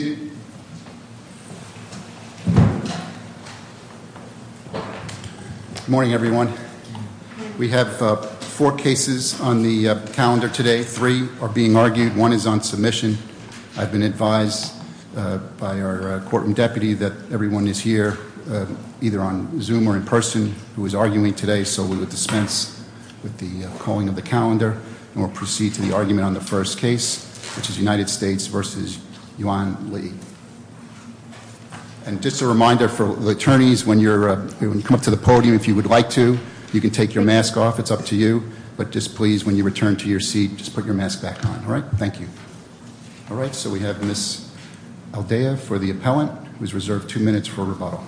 Good morning, everyone. We have four cases on the calendar today. Three are being argued. One is on submission. I've been advised by our courtroom deputy that everyone is here either on Zoom or in person who is arguing today, so we will dispense with the calling of the calendar, and we'll proceed to the argument on the first case, which is United States v. Pineda. And just a reminder for the attorneys, when you come up to the podium, if you would like to, you can take your mask off. It's up to you. But just please, when you return to your seat, just put your mask back on. All right? Thank you. All right, so we have Ms. Aldea for the appellant, who is reserved two minutes for rebuttal.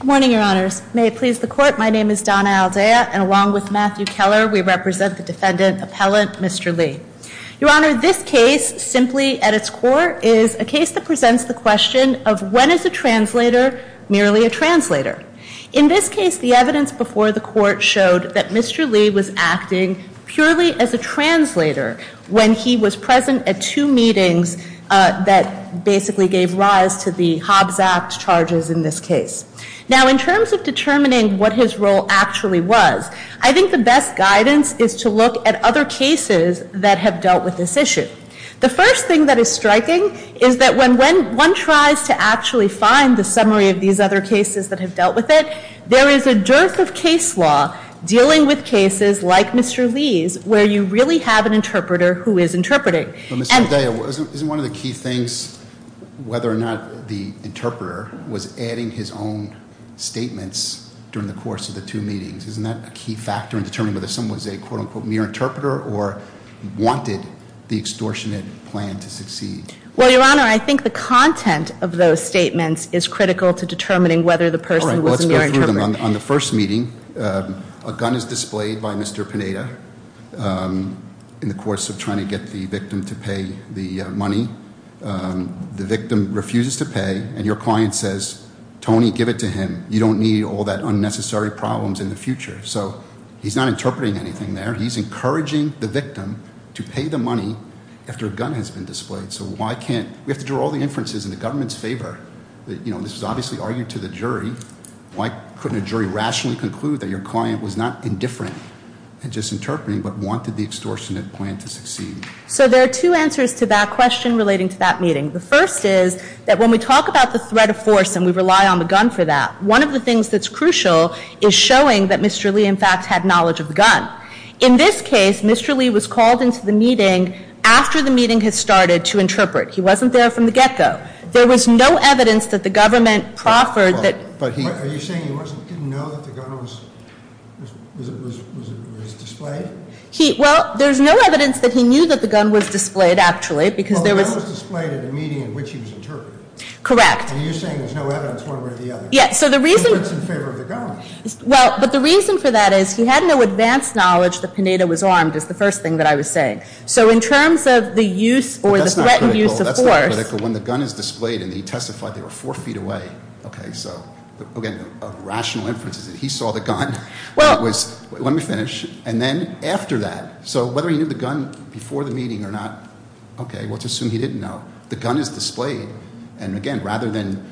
Good morning, Your Honors. May it please the Court, my name is Donna Aldea, and along with Matthew Keller, we represent the defendant appellant, Mr. Lee. Your Honor, this case, simply at its core, is a case that presents the question of when is a translator merely a translator? In this case, the evidence before the Court showed that Mr. Lee was acting purely as a translator when he was present at two meetings that basically gave rise to the Hobbs Act charges in this case. Now, in terms of determining what his role actually was, I think the first thing that is striking is that when one tries to actually find the summary of these other cases that have dealt with it, there is a dearth of case law dealing with cases like Mr. Lee's where you really have an interpreter who is interpreting. But Ms. Aldea, isn't one of the key things whether or not the interpreter was adding his own statements during the course of the two meetings? Isn't that a key factor in determining whether someone was a quote-unquote mere interpreter or wanted the extortionate plan to succeed? Well, Your Honor, I think the content of those statements is critical to determining whether the person was a mere interpreter. All right, well, let's go through them. On the first meeting, a gun is displayed by Mr. Pineda in the course of trying to get the victim to pay the money. The victim refuses to pay, and your client says, Tony, give it to him. You don't need all that unnecessary problems in the interpreting anything there. He's encouraging the victim to pay the money after a gun has been displayed. So why can't, we have to draw all the inferences in the government's favor. You know, this was obviously argued to the jury. Why couldn't a jury rationally conclude that your client was not indifferent in just interpreting, but wanted the extortionate plan to succeed? So there are two answers to that question relating to that meeting. The first is that when we talk about the threat of force and we rely on the gun for that, one of the things that's crucial is showing that Mr. Lee, in fact, had knowledge of the gun. In this case, Mr. Lee was called into the meeting after the meeting had started to interpret. He wasn't there from the get-go. There was no evidence that the government proffered that- Are you saying he didn't know that the gun was displayed? Well, there's no evidence that he knew that the gun was displayed, actually, because there was- Well, the gun was displayed at a meeting in which he was interpreting. Correct. And you're saying there's no evidence one way or the other? Yes, so the reason- He was in favor of the gun. Well, but the reason for that is he had no advanced knowledge that Pineda was armed, is the first thing that I was saying. So in terms of the use or the threatened use of force- That's not critical. When the gun is displayed and he testified they were four feet away, okay, so, again, a rational inference is that he saw the gun. Well, it was- Let me finish. And then after that, so whether he knew the gun before the meeting or not, okay, we'll just assume he didn't know. The gun is displayed, and again, rather than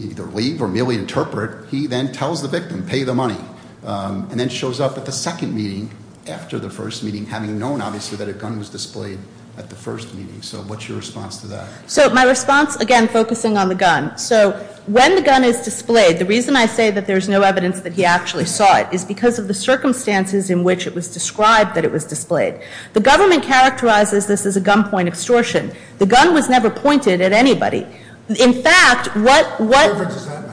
either leave or merely interpret, he then tells the victim, pay the money. And then shows up at the second meeting after the first meeting, having known, obviously, that a gun was displayed at the first meeting. So what's your response to that? So my response, again, focusing on the gun. So when the gun is displayed, the reason I say that there's no evidence that he actually saw it is because of the circumstances in which it was described that it was displayed. The government characterizes this as a gunpoint extortion. The gun was never pointed at anybody. In fact, what- What difference does that make?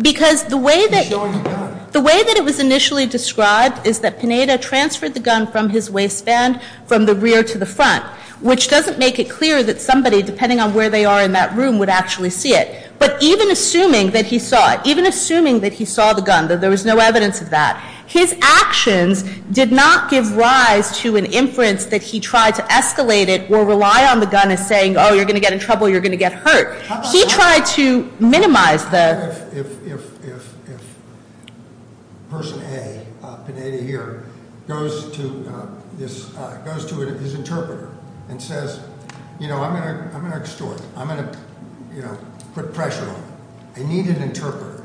Because the way that- Showing the gun. The way that it was initially described is that Pineda transferred the gun from his waistband from the rear to the front. Which doesn't make it clear that somebody, depending on where they are in that room, would actually see it. But even assuming that he saw it, even assuming that he saw the gun, that there was no evidence of that. His actions did not give rise to an inference that he tried to escalate it or rely on the gun as saying, you're going to get in trouble, you're going to get hurt. He tried to minimize the- If person A, Pineda here, goes to his interpreter and says, I'm going to extort. I'm going to put pressure on him. I need an interpreter.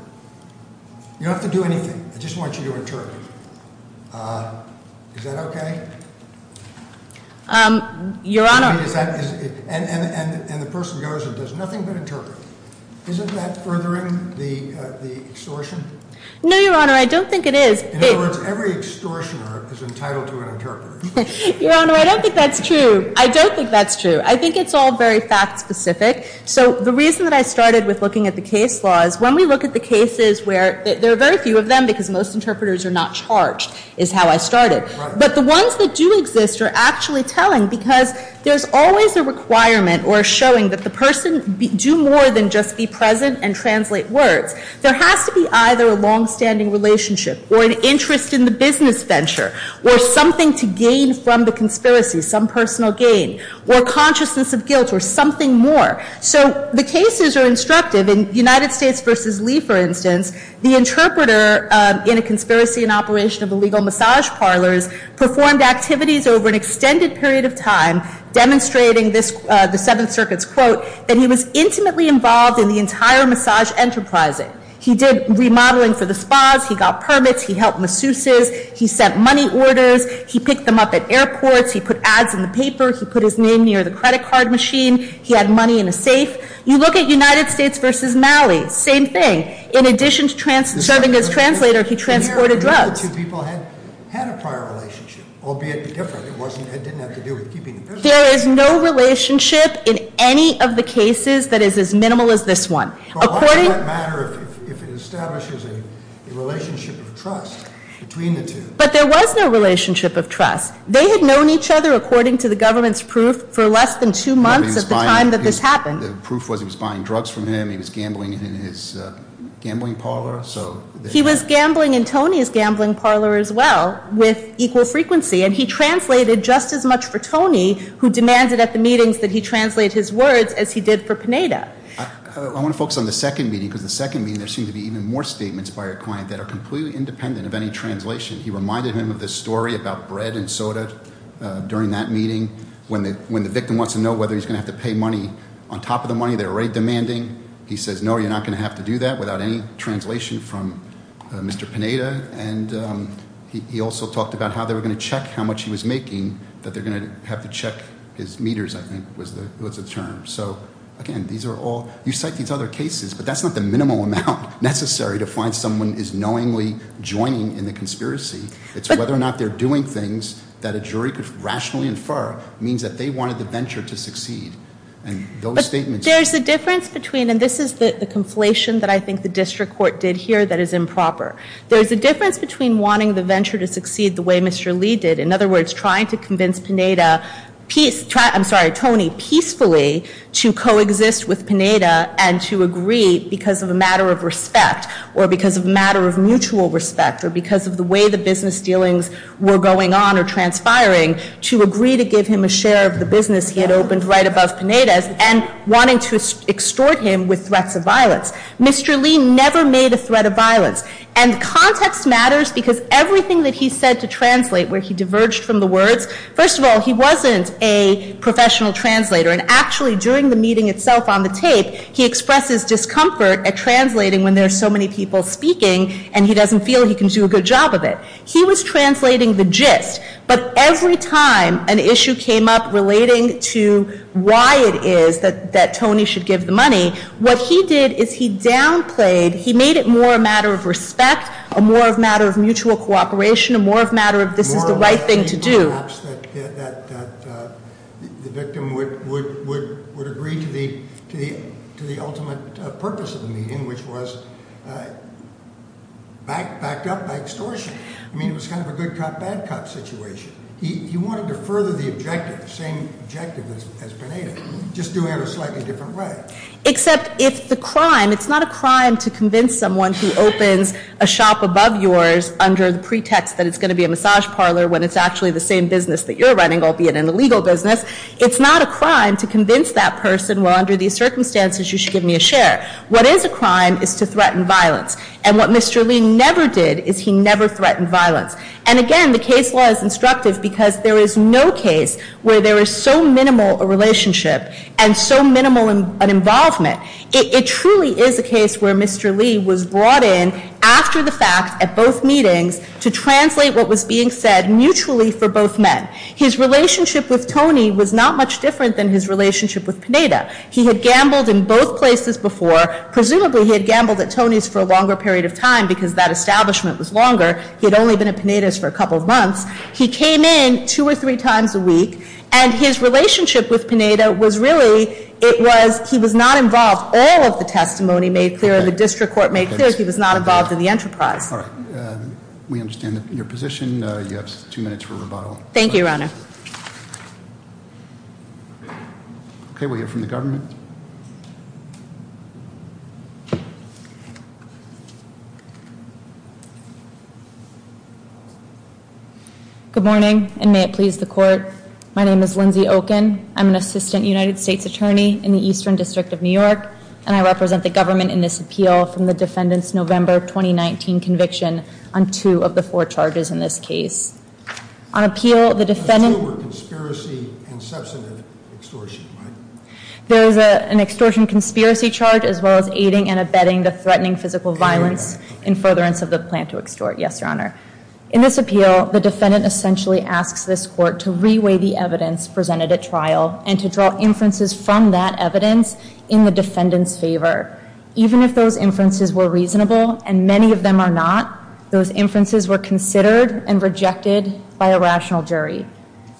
You don't have to do anything. I just want you to interpret. Is that okay? Your Honor- And the person goes and does nothing but interpret. Isn't that furthering the extortion? No, your honor, I don't think it is. In other words, every extortioner is entitled to an interpreter. Your honor, I don't think that's true. I don't think that's true. I think it's all very fact specific. So the reason that I started with looking at the case laws, when we look at the cases where, there are very few of them because most interpreters are not charged, is how I started. But the ones that do exist are actually telling because there's always a requirement or showing that the person do more than just be present and translate words. There has to be either a long standing relationship or an interest in the business venture. Or something to gain from the conspiracy, some personal gain. Or consciousness of guilt or something more. So the cases are instructive. In United States versus Lee, for instance, the interpreter in a conspiracy and operation of illegal massage parlors performed activities over an extended period of time. Demonstrating the Seventh Circuit's quote, that he was intimately involved in the entire massage enterprising. He did remodeling for the spas, he got permits, he helped masseuses, he sent money orders. He picked them up at airports, he put ads in the paper, he put his name near the credit card machine, he had money in a safe. You look at United States versus Malley, same thing. In addition to serving as translator, he transported drugs. The two people had a prior relationship, albeit different. It didn't have to do with keeping the business. There is no relationship in any of the cases that is as minimal as this one. According- But why would it matter if it establishes a relationship of trust between the two? But there was no relationship of trust. They had known each other, according to the government's proof, for less than two months at the time that this happened. The proof was he was buying drugs from him, he was gambling in his gambling parlor, so- He was gambling in Tony's gambling parlor as well, with equal frequency. And he translated just as much for Tony, who demanded at the meetings that he translate his words, as he did for Pineda. I want to focus on the second meeting, because the second meeting, there seemed to be even more statements by our client that are completely independent of any translation. He reminded him of this story about bread and soda during that meeting, when the victim wants to know whether he's going to have to pay money on top of the money they're already demanding. He says, no, you're not going to have to do that without any translation from Mr. Pineda. And he also talked about how they were going to check how much he was making, that they're going to have to check his meters, I think was the term. So again, these are all, you cite these other cases, but that's not the minimal amount necessary to find someone is knowingly joining in the conspiracy. It's whether or not they're doing things that a jury could rationally infer means that they wanted the venture to succeed. And those statements- There's a difference between, and this is the conflation that I think the district court did here that is improper. There's a difference between wanting the venture to succeed the way Mr. Lee did. In other words, trying to convince Pineda, I'm sorry, Tony, peacefully to coexist with Pineda and to agree because of a matter of respect. Or because of a matter of mutual respect, or because of the way the business dealings were going on or transpiring, to agree to give him a share of the business he had opened right above Pineda's and wanting to extort him with threats of violence. Mr. Lee never made a threat of violence. And context matters because everything that he said to translate where he diverged from the words. First of all, he wasn't a professional translator. And actually, during the meeting itself on the tape, he expresses discomfort at translating when there's so many people speaking and he doesn't feel he can do a good job of it. He was translating the gist. But every time an issue came up relating to why it is that Tony should give the money, what he did is he downplayed, he made it more a matter of respect, a more of matter of mutual cooperation, a more of matter of this is the right thing to do. Perhaps that the victim would agree to the ultimate purpose of the meeting, which was backed up by extortion. I mean, it was kind of a good cop, bad cop situation. He wanted to further the objective, the same objective as Pineda, just doing it a slightly different way. Except if the crime, it's not a crime to convince someone who opens a shop above yours under the pretext that it's going to be a massage parlor when it's actually the same business that you're running, albeit an illegal business. It's not a crime to convince that person, well, under these circumstances, you should give me a share. What is a crime is to threaten violence. And what Mr. Lee never did is he never threatened violence. And again, the case law is instructive because there is no case where there is so minimal a relationship and so minimal an involvement. It truly is a case where Mr. Lee was brought in after the fact at both meetings to translate what was being said mutually for both men. His relationship with Tony was not much different than his relationship with Pineda. He had gambled in both places before. Presumably he had gambled at Tony's for a longer period of time because that establishment was longer. He had only been at Pineda's for a couple of months. He came in two or three times a week and his relationship with Pineda was really, it was, he was not involved, all of the testimony made clear, the district court made clear, he was not involved in the enterprise. All right. We understand your position, you have two minutes for rebuttal. Thank you, Your Honor. Okay, we have from the government. Good morning, and may it please the court. My name is Lindsay Oken. I'm an assistant United States attorney in the Eastern District of New York. And I represent the government in this appeal from the defendant's November 2019 conviction on two of the four charges in this case. On appeal, the defendant- There's no conspiracy and substantive extortion, right? There is an extortion conspiracy charge as well as aiding and abetting the threatening physical violence in furtherance of the plan to extort. Yes, Your Honor. In this appeal, the defendant essentially asks this court to reweigh the evidence presented at trial and to draw inferences from that evidence in the defendant's favor. Even if those inferences were reasonable, and many of them are not, those inferences were considered and rejected by a rational jury.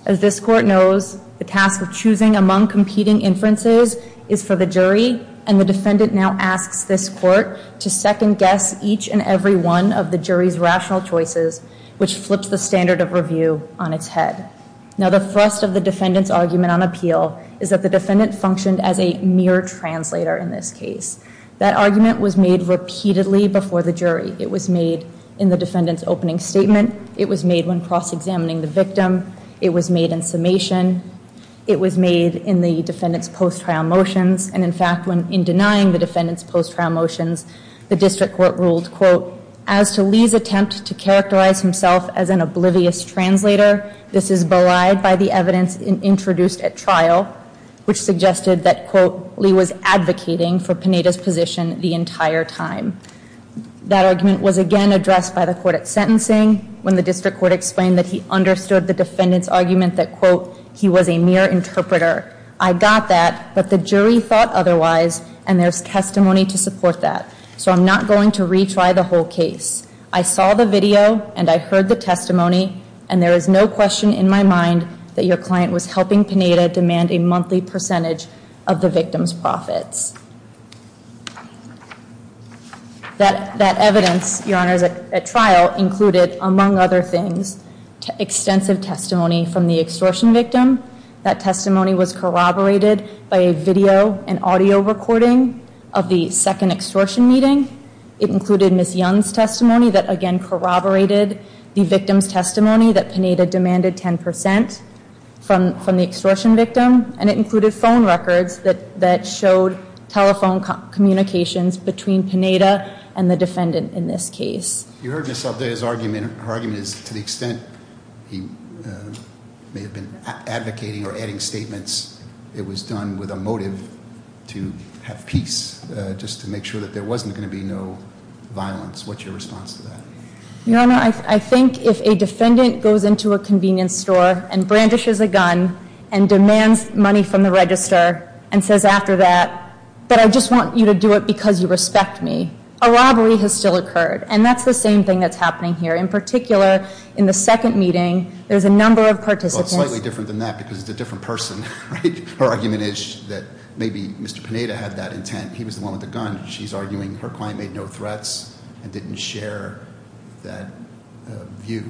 As this court knows, the task of choosing among competing inferences is for the jury. And the defendant now asks this court to second guess each and every one of the jury's rational choices, which flips the standard of review on its head. Now the thrust of the defendant's argument on appeal is that the defendant functioned as a mere translator in this case. That argument was made repeatedly before the jury. It was made in the defendant's opening statement. It was made when cross-examining the victim. It was made in summation. It was made in the defendant's post-trial motions. And in fact, when in denying the defendant's post-trial motions, the district court ruled quote, as to Lee's attempt to characterize himself as an oblivious translator, this is belied by the evidence introduced at trial, which suggested that, quote, Lee was advocating for Panetta's position the entire time. That argument was again addressed by the court at sentencing when the district court explained that he understood the defendant's argument that, quote, he was a mere interpreter. I got that, but the jury thought otherwise, and there's testimony to support that. So I'm not going to retry the whole case. I saw the video, and I heard the testimony, and there is no question in my mind that your client was helping Panetta demand a monthly percentage of the victim's profits. That evidence, your honors, at trial included, among other things, extensive testimony from the extortion victim. That testimony was corroborated by a video and audio recording of the second extortion meeting. It included Ms. Young's testimony that again corroborated the victim's testimony that Panetta demanded 10% from the extortion victim. And it included phone records that showed telephone communications between Panetta and the defendant in this case. You heard Ms. Althaea's argument, her argument is to the extent he may have been advocating or adding statements, it was done with a motive to have peace, just to make sure that there wasn't going to be no violence, what's your response to that? Your honor, I think if a defendant goes into a convenience store and brandishes a gun and demands money from the register and says after that, but I just want you to do it because you respect me. A robbery has still occurred, and that's the same thing that's happening here. In particular, in the second meeting, there's a number of participants- Well, it's slightly different than that because it's a different person, right? Her argument is that maybe Mr. Panetta had that intent. He was the one with the gun. She's arguing her client made no threats and didn't share that view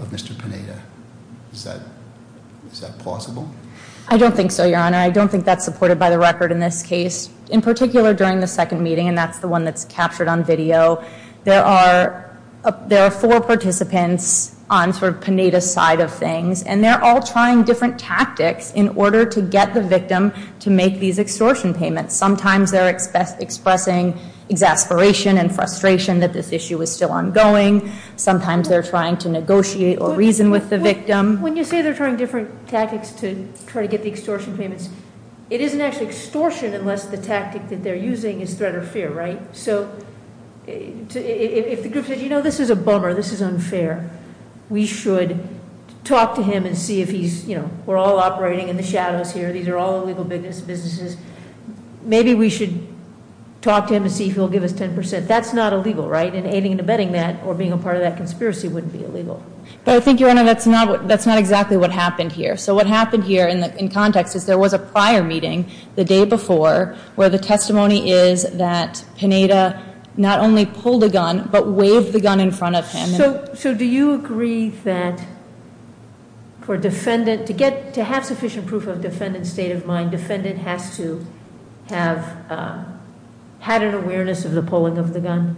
of Mr. Panetta. Is that plausible? I don't think so, your honor. I don't think that's supported by the record in this case. In particular, during the second meeting, and that's the one that's captured on video, there are four participants on sort of Panetta's side of things. And they're all trying different tactics in order to get the victim to make these extortion payments. Sometimes they're expressing exasperation and frustration that this issue is still ongoing. Sometimes they're trying to negotiate or reason with the victim. When you say they're trying different tactics to try to get the extortion payments, it isn't actually extortion unless the tactic that they're using is threat or fear, right? So if the group says, this is a bummer, this is unfair. We should talk to him and see if he's, we're all operating in the shadows here. These are all illegal businesses. Maybe we should talk to him and see if he'll give us 10%. That's not illegal, right? And aiding and abetting that or being a part of that conspiracy wouldn't be illegal. But I think, Your Honor, that's not exactly what happened here. So what happened here in context is there was a prior meeting the day before, where the testimony is that Panetta not only pulled a gun, but waved the gun in front of him. So do you agree that to have sufficient proof of defendant's state of mind, defendant has to have had an awareness of the pulling of the gun?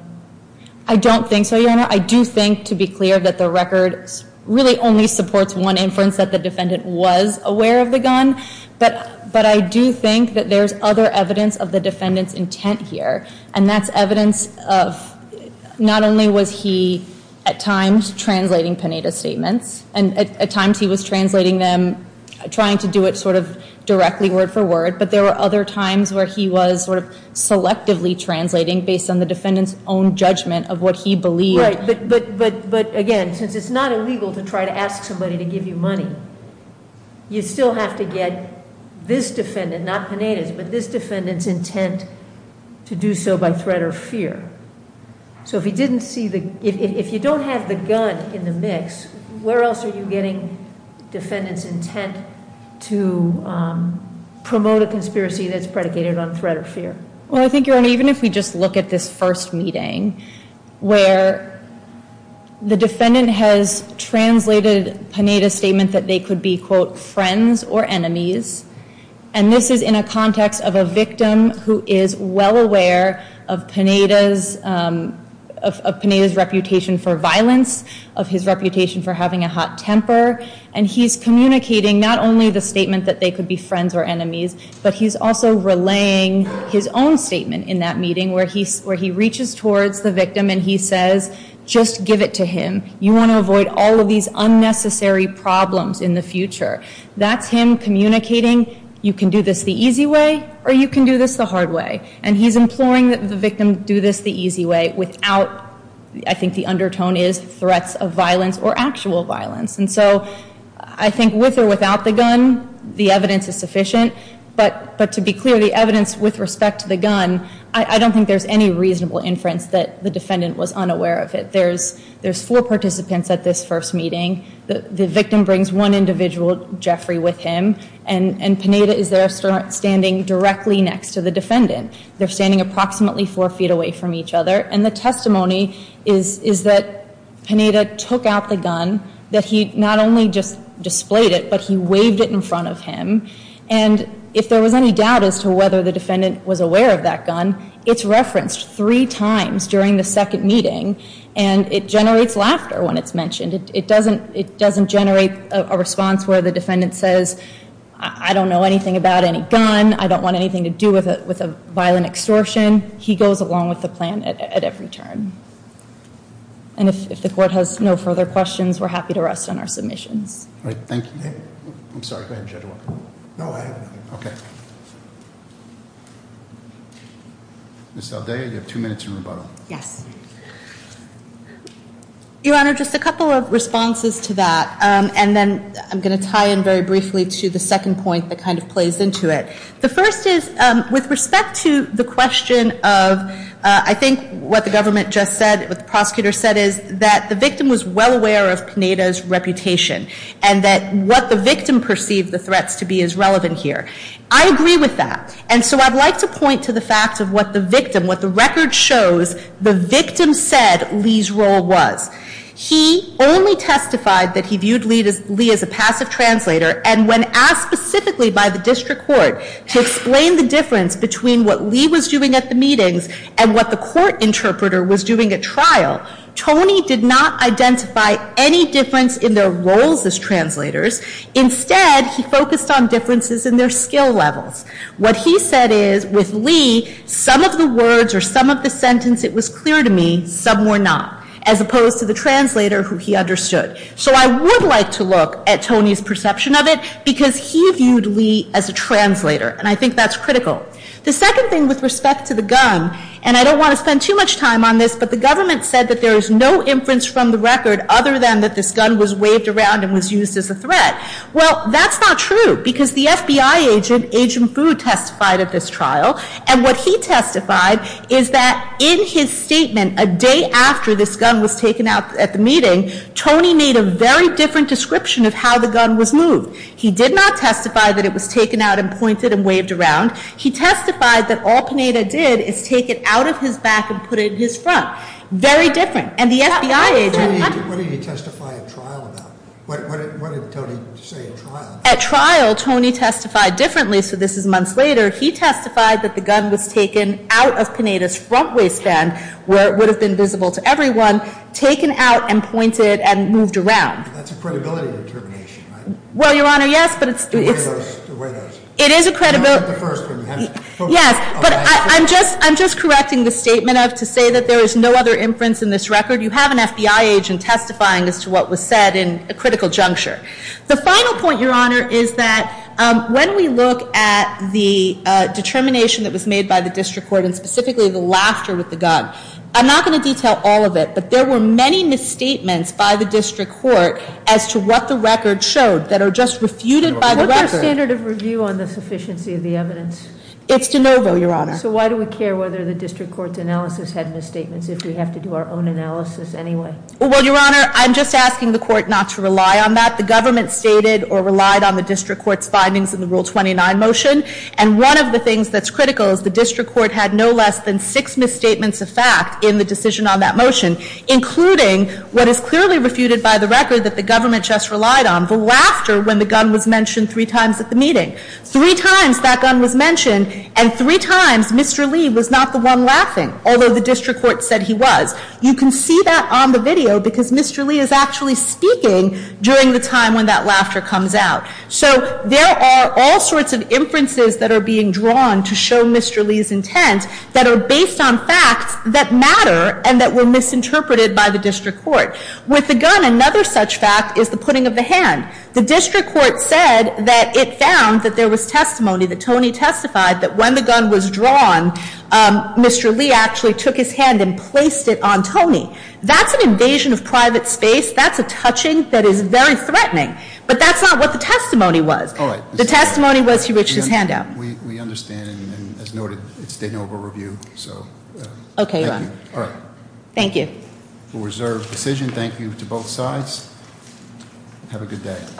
I don't think so, Your Honor. I do think, to be clear, that the record really only supports one inference, that the defendant was aware of the gun. But I do think that there's other evidence of the defendant's intent here. And that's evidence of, not only was he at times translating Panetta's statements, and at times he was translating them, trying to do it sort of directly word for word. But there were other times where he was sort of selectively translating based on the defendant's own judgment of what he believed. Right, but again, since it's not illegal to try to ask somebody to give you money, you still have to get this defendant, not Panetta's, but this defendant's intent to do so by threat or fear. So if you don't have the gun in the mix, where else are you getting defendant's intent to promote a conspiracy that's predicated on threat or fear? Well, I think, Your Honor, even if we just look at this first meeting, where the defendant has translated Panetta's statement that they could be, quote, friends or enemies. And this is in a context of a victim who is well aware of Panetta's reputation for violence, of his reputation for having a hot temper. And he's communicating not only the statement that they could be friends or enemies, but he's also relaying his own statement in that meeting where he reaches towards the victim and he says, just give it to him. You want to avoid all of these unnecessary problems in the future. That's him communicating, you can do this the easy way or you can do this the hard way. And he's imploring that the victim do this the easy way without, I think the undertone is, threats of violence or actual violence. And so, I think with or without the gun, the evidence is sufficient. But to be clear, the evidence with respect to the gun, I don't think there's any reasonable inference that the defendant was unaware of it. There's four participants at this first meeting. The victim brings one individual, Jeffrey, with him. And Panetta is there standing directly next to the defendant. They're standing approximately four feet away from each other. And the testimony is that Panetta took out the gun, that he not only just displayed it, but he waved it in front of him. And if there was any doubt as to whether the defendant was aware of that gun, it's referenced three times during the second meeting. And it generates laughter when it's mentioned. It doesn't generate a response where the defendant says, I don't know anything about any gun. I don't want anything to do with a violent extortion. He goes along with the plan at every turn. And if the court has no further questions, we're happy to rest on our submissions. All right, thank you. I'm sorry, go ahead, Judge Walker. No, I have nothing. Okay. Ms. Aldea, you have two minutes in rebuttal. Yes. Your Honor, just a couple of responses to that, and then I'm going to tie in very briefly to the second point that kind of plays into it. The first is, with respect to the question of, I think what the government just said, what the prosecutor said is that the victim was well aware of Panetta's reputation. And that what the victim perceived the threats to be is relevant here. I agree with that. And so I'd like to point to the fact of what the victim, what the record shows, the victim said Lee's role was. He only testified that he viewed Lee as a passive translator. And when asked specifically by the district court to explain the difference between what Lee was doing at the meetings and what the court interpreter was doing at trial, Tony did not identify any difference in their roles as translators. Instead, he focused on differences in their skill levels. What he said is, with Lee, some of the words or some of the sentence, it was clear to me, some were not. As opposed to the translator who he understood. So I would like to look at Tony's perception of it, because he viewed Lee as a translator, and I think that's critical. The second thing with respect to the gun, and I don't want to spend too much time on this, but the government said that there is no inference from the record other than that this gun was waved around and was used as a threat. Well, that's not true, because the FBI agent, Agent Food, testified at this trial. And what he testified is that in his statement, a day after this gun was taken out at the meeting, Tony made a very different description of how the gun was moved. He did not testify that it was taken out and pointed and waved around. He testified that all Pineda did is take it out of his back and put it in his front. Very different. And the FBI agent- What did he testify at trial about? What did Tony say at trial? At trial, Tony testified differently, so this is months later. He testified that the gun was taken out of Pineda's front waistband, where it would have been visible to everyone, taken out and pointed and moved around. That's a credibility determination, right? Well, Your Honor, yes, but it's- The way it is. It is a credibility- You're not the first, but you have- Yes, but I'm just correcting the statement to say that there is no other inference in this record. You have an FBI agent testifying as to what was said in a critical juncture. The final point, Your Honor, is that when we look at the determination that was made by the district court, and specifically the laughter with the gun. I'm not going to detail all of it, but there were many misstatements by the district court as to what the record showed that are just refuted by the record. What's the standard of review on the sufficiency of the evidence? It's de novo, Your Honor. So why do we care whether the district court's analysis had misstatements if we have to do our own analysis anyway? Well, Your Honor, I'm just asking the court not to rely on that. The government stated or relied on the district court's findings in the Rule 29 motion. And one of the things that's critical is the district court had no less than six misstatements of fact in the decision on that motion, including what is clearly refuted by the record that the government just relied on. The laughter when the gun was mentioned three times at the meeting. Three times that gun was mentioned, and three times Mr. Lee was not the one laughing, although the district court said he was. You can see that on the video because Mr. Lee is actually speaking during the time when that laughter comes out. So there are all sorts of inferences that are being drawn to show Mr. Lee's intent that are based on facts that matter and that were misinterpreted by the district court. With the gun, another such fact is the putting of the hand. The district court said that it found that there was testimony that Tony testified that when the gun was drawn, Mr. Lee actually took his hand and placed it on Tony. That's an invasion of private space. That's a touching that is very threatening. But that's not what the testimony was. The testimony was he reached his hand out. We understand and as noted, it's state and local review, so. Okay, Your Honor. All right. Thank you. For reserved decision, thank you to both sides. Have a good day.